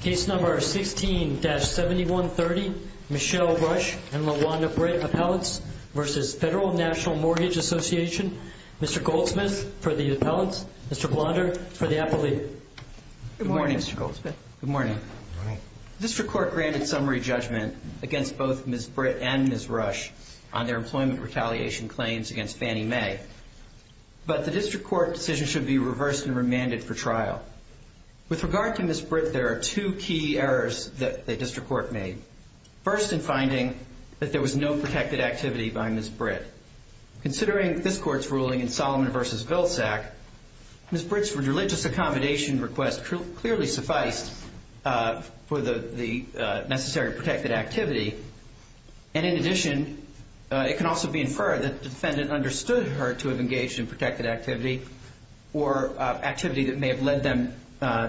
Case number 16-7130, Michelle Rush and Lawanda Britt Appellants v. Federal National Mortgage Association. Mr. Goldsmith for the appellants, Mr. Blonder for the appellate. Good morning, Mr. Goldsmith. Good morning. District Court granted summary judgment against both Ms. Britt and Ms. Rush on their employment retaliation claims against Fannie Mae, but the district court decision should be reversed and remanded for trial. With regard to Ms. Britt, there are two key errors that the district court made. First, in finding that there was no protected activity by Ms. Britt. Considering this court's ruling in Solomon v. Vilsack, Ms. Britt's religious accommodation request clearly sufficed for the necessary protected activity. And in addition, it can also be inferred that the defendant understood her to have engaged in protected activity or activity that may have led them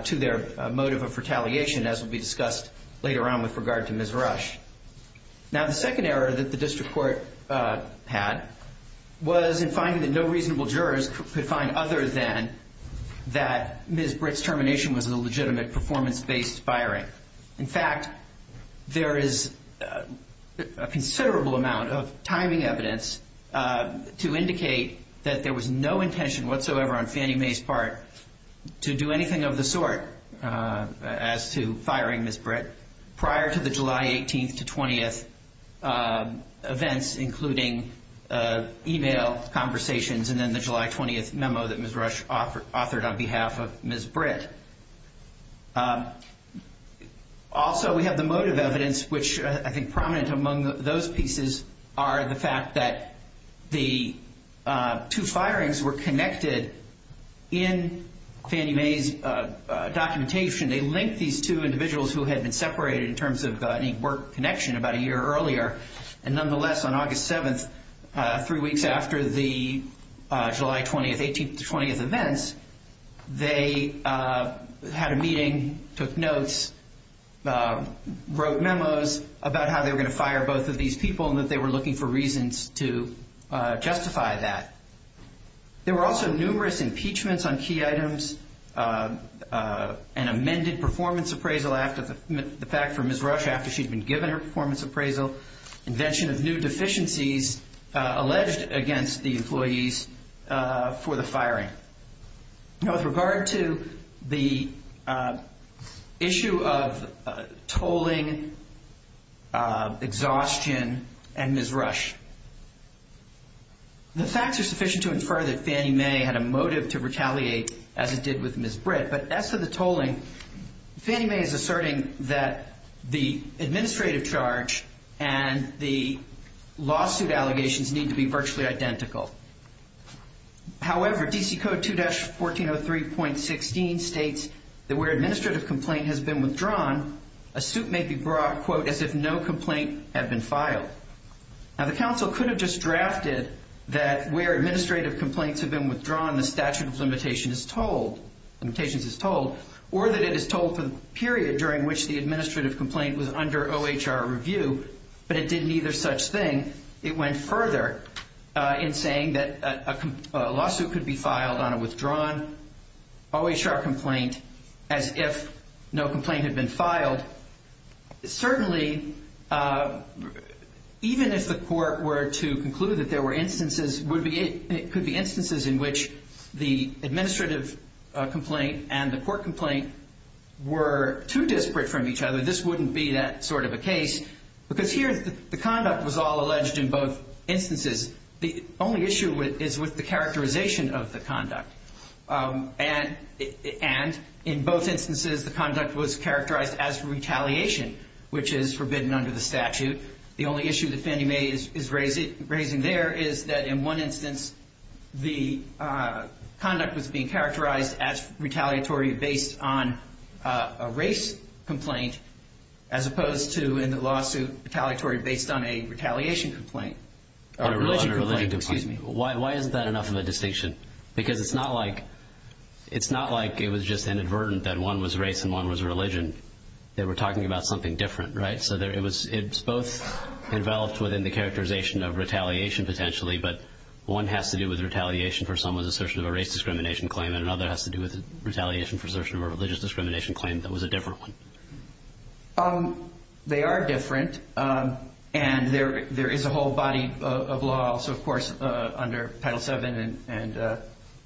to their motive of retaliation, as will be discussed later on with regard to Ms. Rush. Now, the second error that the district court had was in finding that no reasonable jurors could find other than that Ms. Britt's termination was a legitimate performance-based firing. In fact, there is a considerable amount of timing evidence to indicate that there was no intention whatsoever on Fannie Mae's part to do anything of the sort as to firing Ms. Britt prior to the July 18th to 20th events, including email conversations and then the July 20th memo that Ms. Rush authored on behalf of Ms. Britt. Also, we have the motive evidence, which I think prominent among those pieces are the fact that the two firings were connected in Fannie Mae's documentation. They linked these two individuals who had been separated in terms of any work connection about a year earlier, and nonetheless, on August 7th, three weeks after the July 20th, 18th to 20th events, they had a meeting, took notes, wrote memos about how they were going to fire both of these people and that they were looking for reasons to justify that. There were also numerous impeachments on key items, an amended performance appraisal after the fact for Ms. Rush after she'd been given her performance appraisal, invention of new deficiencies alleged against the employees for the firing. Now, with regard to the issue of tolling, exhaustion, and Ms. Rush, the facts are sufficient to infer that Fannie Mae had a motive to retaliate as it did with Ms. Britt, but as to the tolling, Fannie Mae is asserting that the administrative charge and the lawsuit allegations need to be virtually identical. However, DC Code 2-1403.16 states that where administrative complaint has been withdrawn, a suit may be brought, quote, as if no complaint had been filed. Now, the counsel could have just drafted that where administrative complaints have been withdrawn, the statute of limitations is told, or that it is told for the period during which the administrative complaint was under OHR review, but it did neither such thing. It went further in saying that a lawsuit could be filed on a withdrawn OHR complaint as if no complaint had been filed. But certainly, even if the court were to conclude that there were instances, it could be instances in which the administrative complaint and the court complaint were too disparate from each other, this wouldn't be that sort of a case, because here the conduct was all alleged in both instances. The only issue is with the characterization of the conduct. And in both instances, the conduct was characterized as retaliation, which is forbidden under the statute. The only issue that Fannie Mae is raising there is that in one instance, the conduct was being characterized as retaliatory based on a race complaint as opposed to in the lawsuit retaliatory based on a retaliation complaint. Why isn't that enough of a distinction? Because it's not like it was just inadvertent that one was race and one was religion. They were talking about something different, right? So it's both involved within the characterization of retaliation potentially, but one has to do with retaliation for someone's assertion of a race discrimination claim and another has to do with retaliation for assertion of a religious discrimination claim that was a different one. They are different. And there is a whole body of law, also, of course, under Title VII and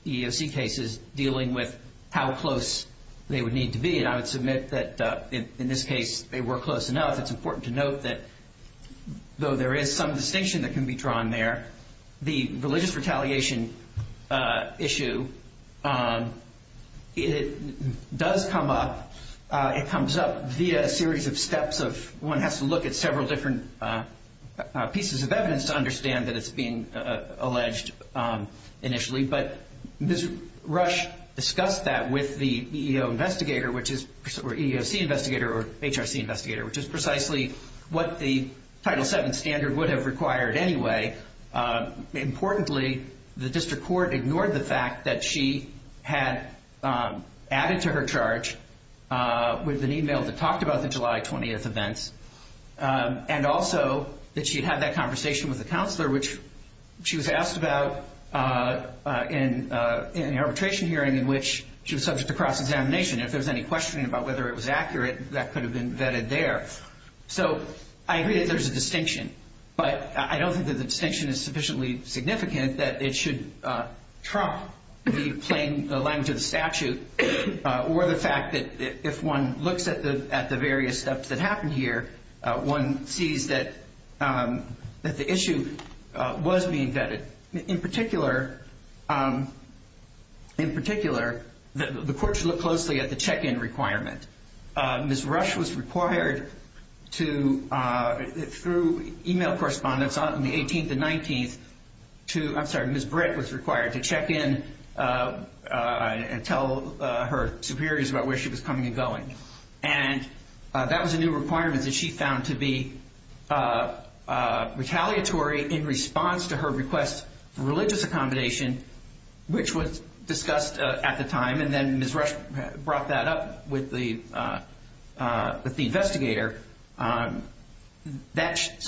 EEOC cases dealing with how close they would need to be. And I would submit that in this case, they were close enough. It's important to note that though there is some distinction that can be drawn there, the religious retaliation issue, it does come up. It comes up via a series of steps of one has to look at several different pieces of evidence to understand that it's being alleged initially. But Ms. Rush discussed that with the EEOC investigator or HRC investigator, which is precisely what the Title VII standard would have required anyway. Importantly, the district court ignored the fact that she had added to her charge with an email that talked about the July 20th events. And also that she had that conversation with the counselor, which she was asked about in an arbitration hearing in which she was subject to cross-examination. If there was any questioning about whether it was accurate, that could have been vetted there. So I agree that there's a distinction, but I don't think that the distinction is sufficiently significant that it should trump the plain language of the statute or the fact that if one looks at the various steps that happened here, one sees that the issue was being vetted. In particular, the court should look closely at the check-in requirement. Ms. Rush was required to, through email correspondence on the 18th and 19th, I'm sorry, Ms. Britt was required to check in and tell her superiors about where she was coming and going. And that was a new requirement that she found to be retaliatory in response to her request for religious accommodation, which was discussed at the time. And then Ms. Rush brought that up with the investigator. So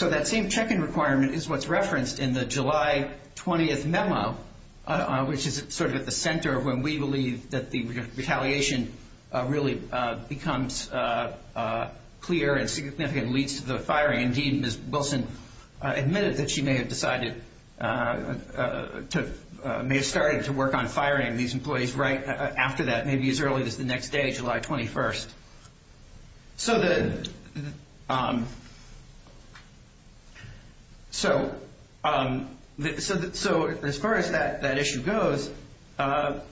that same check-in requirement is what's referenced in the July 20th memo, which is sort of at the center of when we believe that the retaliation really becomes clear and significant and leads to the firing. Indeed, Ms. Wilson admitted that she may have started to work on firing these employees right after that, maybe as early as the next day, July 21st. So as far as that issue goes, that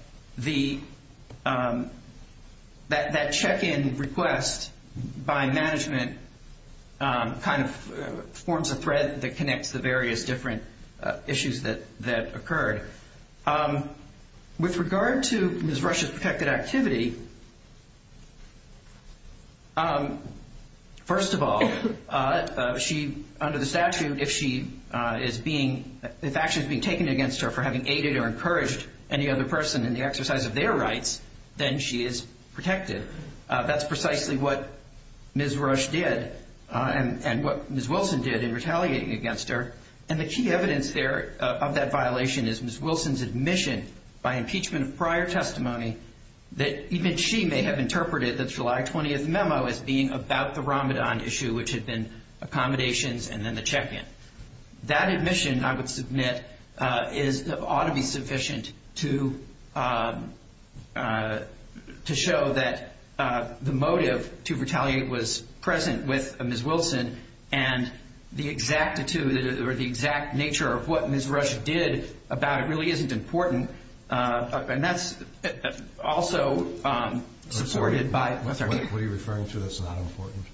check-in request by management kind of forms a thread that connects the various different issues that occurred. With regard to Ms. Rush's protected activity, first of all, under the statute, if action is being taken against her for having aided or encouraged any other person in the exercise of their rights, then she is protected. That's precisely what Ms. Rush did and what Ms. Wilson did in retaliating against her. And the key evidence there of that violation is Ms. Wilson's admission by impeachment of prior testimony that even she may have interpreted the July 20th memo as being about the Ramadan issue, which had been accommodations and then the check-in. That admission, I would submit, ought to be sufficient to show that the motive to retaliate was present with Ms. Wilson and the exact nature of what Ms. Rush did about it really isn't important. And that's also supported by... What are you referring to that's not important?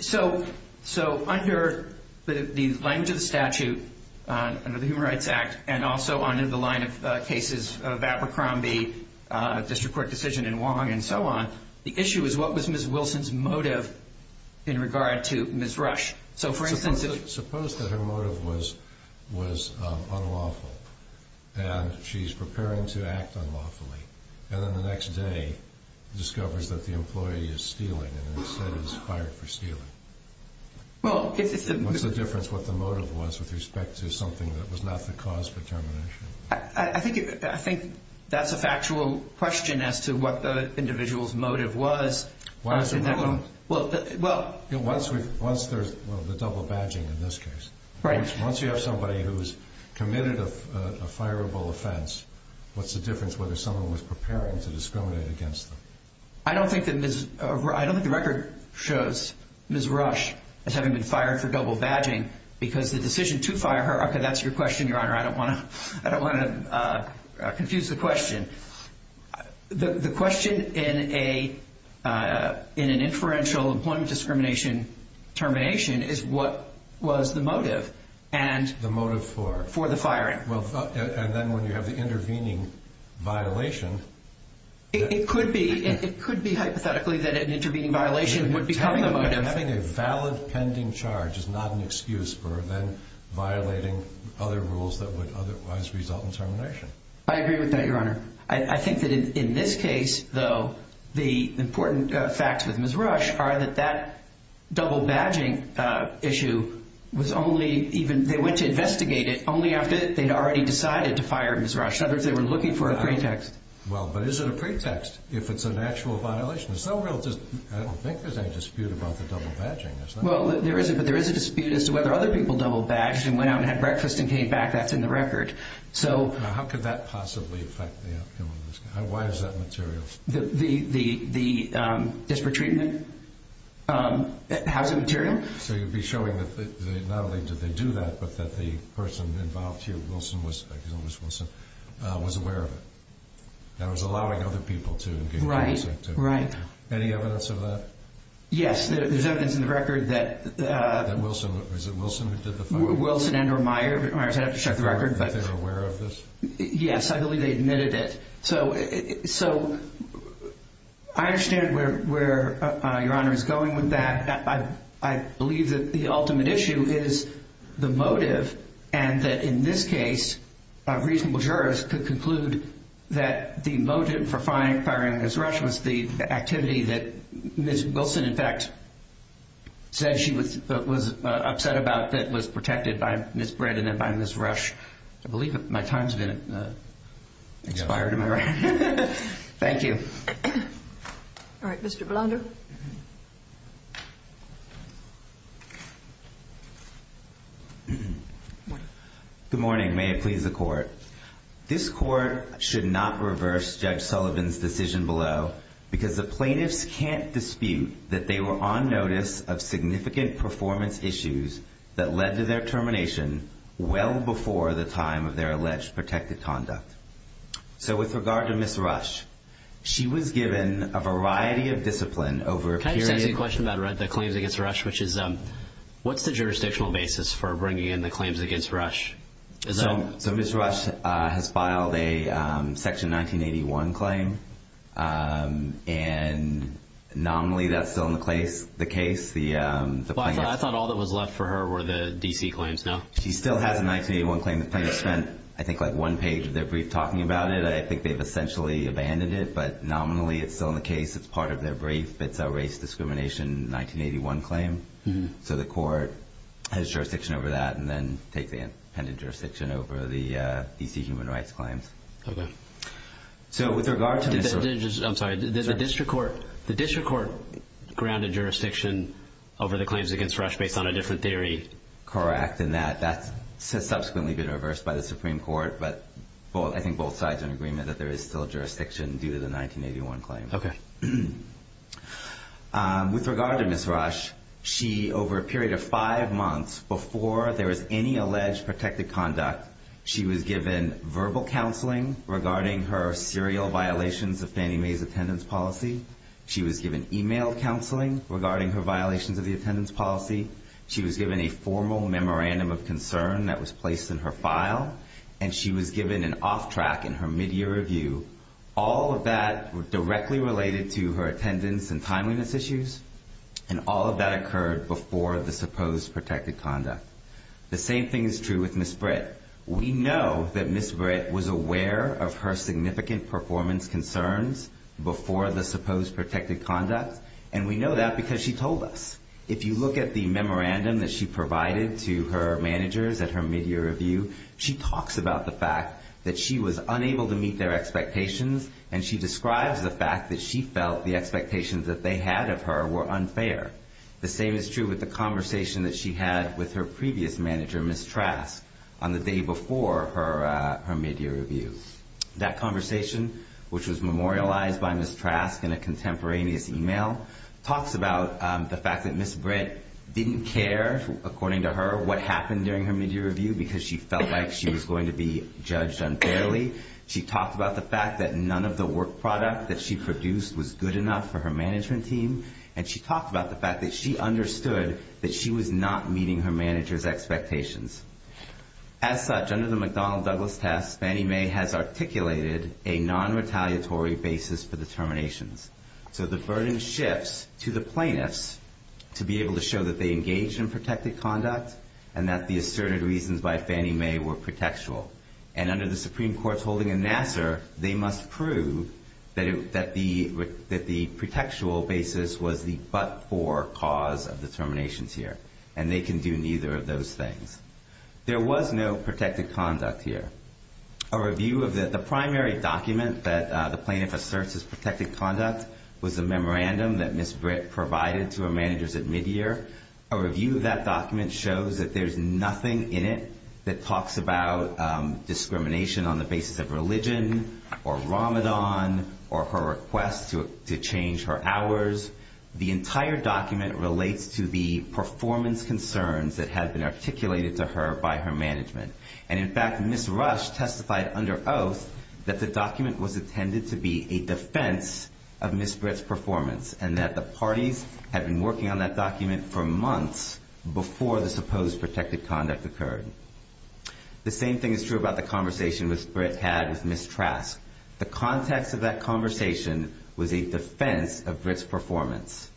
So under the language of the statute, under the Human Rights Act, and also under the line of cases of Abercrombie District Court decision in Wong and so on, the issue is what was Ms. Wilson's motive in regard to Ms. Rush? Suppose that her motive was unlawful and she's preparing to act unlawfully and then the next day discovers that the employee is stealing and instead is fired for stealing. What's the difference what the motive was with respect to something that was not the cause for termination? I think that's a factual question as to what the individual's motive was. Once there's the double badging in this case. Right. Once you have somebody who's committed a fireable offense, what's the difference whether someone was preparing to discriminate against them? I don't think the record shows Ms. Rush as having been fired for double badging because the decision to fire her... Okay, that's your question, Your Honor. I don't want to confuse the question. The question in an inferential employment discrimination termination is what was the motive. The motive for? For the firing. And then when you have the intervening violation... It could be hypothetically that an intervening violation would become the motive. Having a valid pending charge is not an excuse for then violating other rules that would otherwise result in termination. I agree with that, Your Honor. I think that in this case, though, the important facts with Ms. Rush are that that double badging issue was only... They went to investigate it only after they'd already decided to fire Ms. Rush. In other words, they were looking for a pretext. Well, but is it a pretext if it's an actual violation? I don't think there's any dispute about the double badging. Well, there isn't, but there is a dispute as to whether other people double badged and went out and had breakfast and came back. That's in the record. Now, how could that possibly affect the outcome of this case? Why is that material? The disparate treatment? How is it material? So you'd be showing that not only did they do that, but that the person involved here, Wilson, was aware of it. And was allowing other people to engage in this activity. Right, right. Any evidence of that? Yes, there's evidence in the record that... That Wilson, was it Wilson who did the firing? Wilson and or Meyers. Meyers had to check the record, but... They're aware of this? Yes, I believe they admitted it. So, I understand where Your Honor is going with that. I believe that the ultimate issue is the motive. And that in this case, a reasonable jurist could conclude that the motive for firing Ms. Rush was the activity that Ms. Wilson, in fact, said she was upset about that was protected by Ms. Britt and then by Ms. Rush. I believe my time's been expired, am I right? Thank you. All right, Mr. Blunder. Good morning, may it please the Court. This Court should not reverse Judge Sullivan's decision below because the plaintiffs can't dispute that they were on notice of significant performance issues that led to their termination well before the time of their alleged protected conduct. So, with regard to Ms. Rush, she was given a variety of discipline over a period... Can I just ask you a question about the claims against Rush, which is, what's the jurisdictional basis for bringing in the claims against Rush? So, Ms. Rush has filed a Section 1981 claim, and nominally that's still in the case. I thought all that was left for her were the D.C. claims now. She still has a 1981 claim. The plaintiffs spent, I think, like one page of their brief talking about it. I think they've essentially abandoned it, but nominally it's still in the case. It's part of their brief. It's a race discrimination 1981 claim. So, the Court has jurisdiction over that and then take the independent jurisdiction over the D.C. human rights claims. Okay. So, with regard to Ms. Rush... I'm sorry. The District Court grounded jurisdiction over the claims against Rush based on a different theory? Correct, and that's subsequently been reversed by the Supreme Court, but I think both sides are in agreement that there is still jurisdiction due to the 1981 claim. Okay. With regard to Ms. Rush, she, over a period of five months, before there was any alleged protected conduct, she was given verbal counseling regarding her serial violations of Fannie Mae's attendance policy. She was given email counseling regarding her violations of the attendance policy. She was given a formal memorandum of concern that was placed in her file, and she was given an off track in her midyear review. All of that was directly related to her attendance and timeliness issues, and all of that occurred before the supposed protected conduct. The same thing is true with Ms. Britt. We know that Ms. Britt was aware of her significant performance concerns before the supposed protected conduct, and we know that because she told us. If you look at the memorandum that she provided to her managers at her midyear review, she talks about the fact that she was unable to meet their expectations, and she describes the fact that she felt the expectations that they had of her were unfair. The same is true with the conversation that she had with her previous manager, Ms. Trask, on the day before her midyear review. That conversation, which was memorialized by Ms. Trask in a contemporaneous email, talks about the fact that Ms. Britt didn't care, according to her, what happened during her midyear review because she felt like she was going to be judged unfairly. She talked about the fact that none of the work product that she produced was good enough for her management team, and she talked about the fact that she understood that she was not meeting her manager's expectations. As such, under the McDonnell-Douglas test, Fannie Mae has articulated a non-retaliatory basis for the terminations. So the burden shifts to the plaintiffs to be able to show that they engaged in protected conduct and that the asserted reasons by Fannie Mae were protectual. And under the Supreme Court's holding in Nassar, they must prove that the protectual basis was the but-for cause of the terminations here, and they can do neither of those things. There was no protected conduct here. A review of the primary document that the plaintiff asserts is protected conduct was a memorandum that Ms. Britt provided to her managers at midyear. A review of that document shows that there's nothing in it that talks about discrimination on the basis of religion or Ramadan or her request to change her hours. The entire document relates to the performance concerns that had been articulated to her by her management. And, in fact, Ms. Rush testified under oath that the document was intended to be a defense of Ms. Britt's performance and that the parties had been working on that document for months before the supposed protected conduct occurred. The same thing is true about the conversation Ms. Britt had with Ms. Trask. The context of that conversation was a defense of Britt's performance.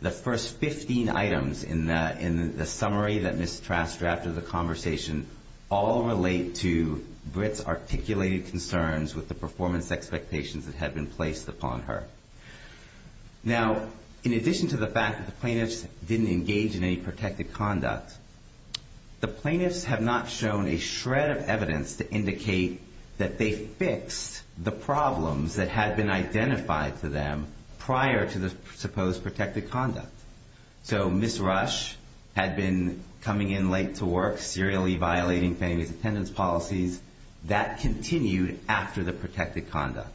The first 15 items in the summary that Ms. Trask drafted in the conversation all relate to Britt's articulated concerns with the performance expectations that had been placed upon her. Now, in addition to the fact that the plaintiffs didn't engage in any protected conduct, the plaintiffs have not shown a shred of evidence to indicate that they fixed the problems that had been identified to them prior to the supposed protected conduct. So Ms. Rush had been coming in late to work, serially violating families' attendance policies. That continued after the protected conduct.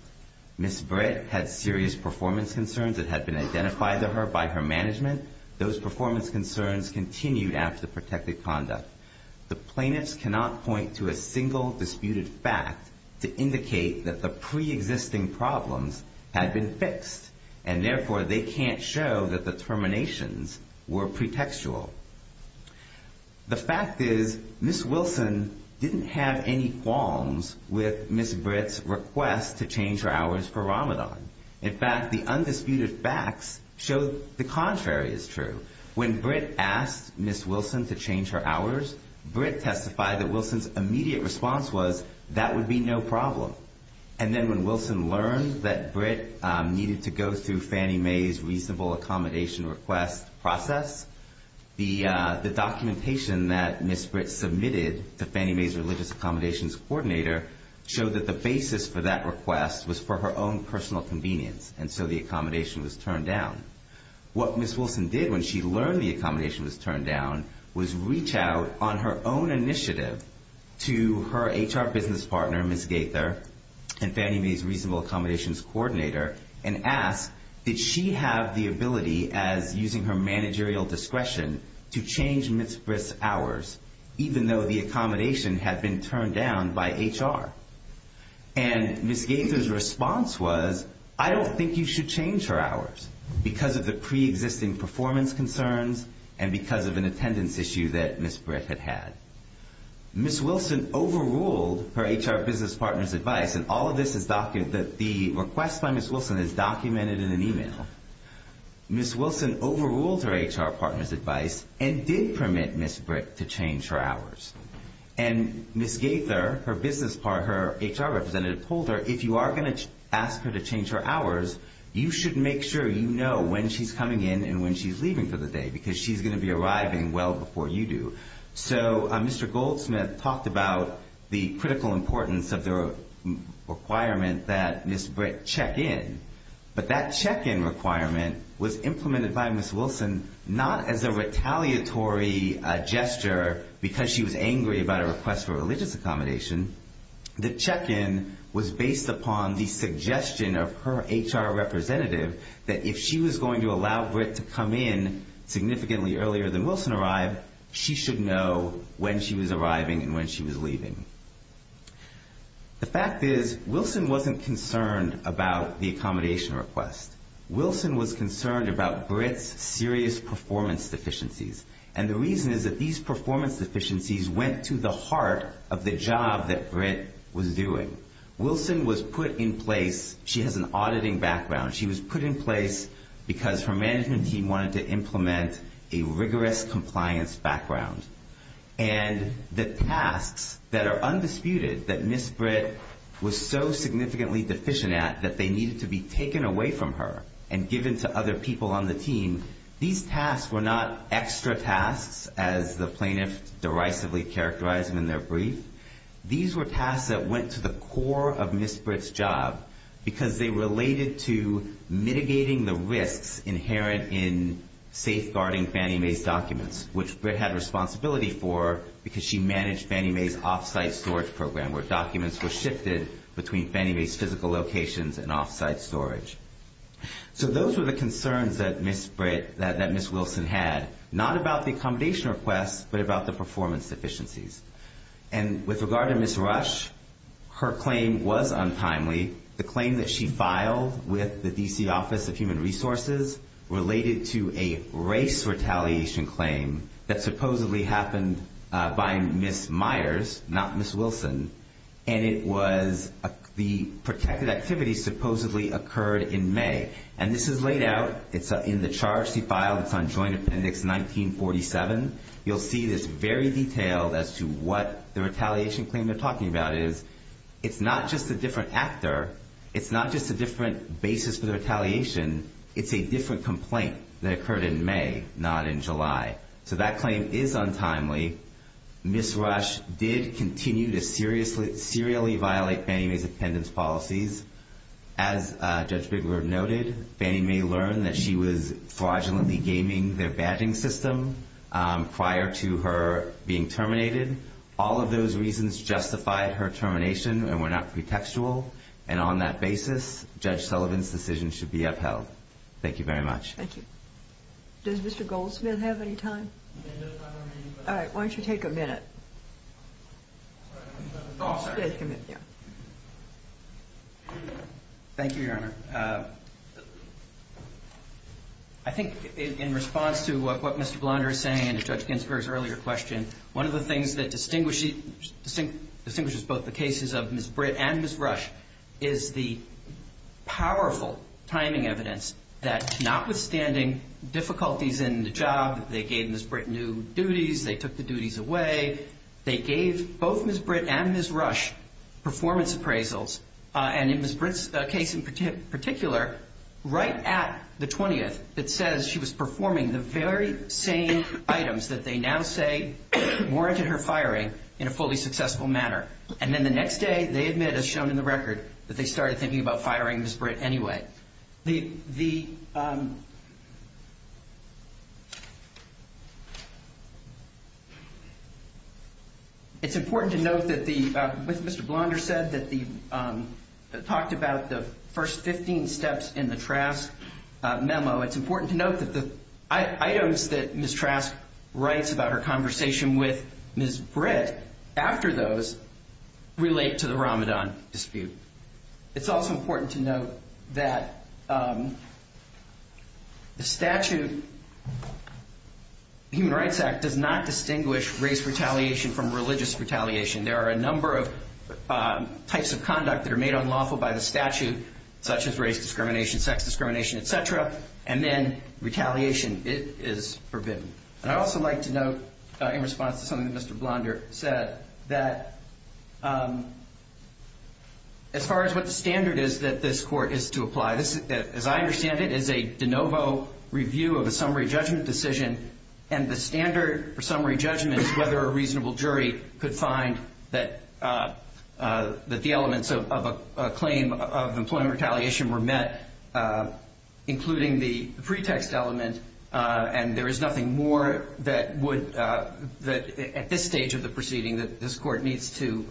Ms. Britt had serious performance concerns that had been identified to her by her management. Those performance concerns continued after the protected conduct. The plaintiffs cannot point to a single disputed fact to indicate that the preexisting problems had been fixed, and, therefore, they can't show that the terminations were pretextual. The fact is Ms. Wilson didn't have any qualms with Ms. Britt's request to change her hours for Ramadan. In fact, the undisputed facts show the contrary is true. When Britt asked Ms. Wilson to change her hours, Britt testified that Wilson's immediate response was, that would be no problem. And then when Wilson learned that Britt needed to go through Fannie Mae's reasonable accommodation request process, the documentation that Ms. Britt submitted to Fannie Mae's religious accommodations coordinator showed that the basis for that request was for her own personal convenience, and so the accommodation was turned down. What Ms. Wilson did when she learned the accommodation was turned down was reach out on her own initiative to her HR business partner, Ms. Gaither, and Fannie Mae's reasonable accommodations coordinator, and ask, did she have the ability, as using her managerial discretion, to change Ms. Britt's hours, even though the accommodation had been turned down by HR? And Ms. Gaither's response was, I don't think you should change her hours, because of the preexisting performance concerns and because of an attendance issue that Ms. Britt had had. Ms. Wilson overruled her HR business partner's advice, and all of this is documented, the request by Ms. Wilson is documented in an email. Ms. Wilson overruled her HR partner's advice and did permit Ms. Britt to change her hours. And Ms. Gaither, her business partner, her HR representative, told her, if you are going to ask her to change her hours, you should make sure you know when she's coming in and when she's leaving for the day, because she's going to be arriving well before you do. So Mr. Goldsmith talked about the critical importance of the requirement that Ms. Britt check in. But that check-in requirement was implemented by Ms. Wilson not as a retaliatory gesture, because she was angry about a request for a religious accommodation. The check-in was based upon the suggestion of her HR representative that if she was going to allow Britt to come in significantly earlier than Wilson arrived, she should know when she was arriving and when she was leaving. The fact is, Wilson wasn't concerned about the accommodation request. Wilson was concerned about Britt's serious performance deficiencies, and the reason is that these performance deficiencies went to the heart of the job that Britt was doing. Wilson was put in place, she has an auditing background, she was put in place because her management team wanted to implement a rigorous compliance background. And the tasks that are undisputed that Ms. Britt was so significantly deficient at that they needed to be taken away from her and given to other people on the team, these tasks were not extra tasks, as the plaintiff derisively characterized them in their brief. These were tasks that went to the core of Ms. Britt's job, because they related to mitigating the risks inherent in safeguarding Fannie Mae's documents, which Britt had responsibility for because she managed Fannie Mae's off-site storage program, where documents were shifted between Fannie Mae's physical locations and off-site storage. So those were the concerns that Ms. Britt, that Ms. Wilson had, not about the accommodation request, but about the performance deficiencies. And with regard to Ms. Rush, her claim was untimely. The claim that she filed with the D.C. Office of Human Resources related to a race retaliation claim that supposedly happened by Ms. Myers, not Ms. Wilson, and it was the protected activity supposedly occurred in May. And this is laid out, it's in the charge she filed, it's on Joint Appendix 1947. You'll see this very detailed as to what the retaliation claim they're talking about is. It's not just a different actor. It's not just a different basis for the retaliation. It's a different complaint that occurred in May, not in July. So that claim is untimely. Ms. Rush did continue to serially violate Fannie Mae's appendix policies. As Judge Bigler noted, Fannie Mae learned that she was fraudulently gaming their badging system. Prior to her being terminated, all of those reasons justified her termination and were not pretextual. And on that basis, Judge Sullivan's decision should be upheld. Thank you very much. Thank you. Does Mr. Goldsmith have any time? All right, why don't you take a minute? I'll stay a minute. Thank you, Your Honor. I think in response to what Mr. Blonder is saying and to Judge Ginsburg's earlier question, one of the things that distinguishes both the cases of Ms. Britt and Ms. Rush is the powerful timing evidence that notwithstanding difficulties in the job, they gave Ms. Britt new duties, they took the duties away, they gave both Ms. Britt and Ms. Rush performance appraisals. And in Ms. Britt's case in particular, right at the 20th, it says she was performing the very same items that they now say warranted her firing in a fully successful manner. And then the next day, they admit, as shown in the record, that they started thinking about firing Ms. Britt anyway. Okay. It's important to note that with what Mr. Blonder said, that he talked about the first 15 steps in the Trask memo, it's important to note that the items that Ms. Trask writes about her conversation with Ms. Britt after those relate to the Ramadan dispute. It's also important to note that the statute, the Human Rights Act, does not distinguish race retaliation from religious retaliation. There are a number of types of conduct that are made unlawful by the statute, such as race discrimination, sex discrimination, et cetera, and then retaliation is forbidden. And I'd also like to note, in response to something that Mr. Blonder said, that as far as what the standard is that this court is to apply, as I understand it, it is a de novo review of a summary judgment decision, and the standard for summary judgment is whether a reasonable jury could find that the elements of a claim of employment retaliation were met, including the pretext element, and there is nothing more that at this stage of the proceeding that this court needs to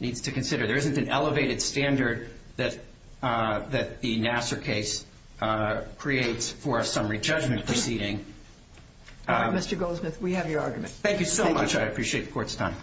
consider. There isn't an elevated standard that the Nassar case creates for a summary judgment proceeding. Mr. Goldsmith, we have your argument. Thank you so much. I appreciate the court's time.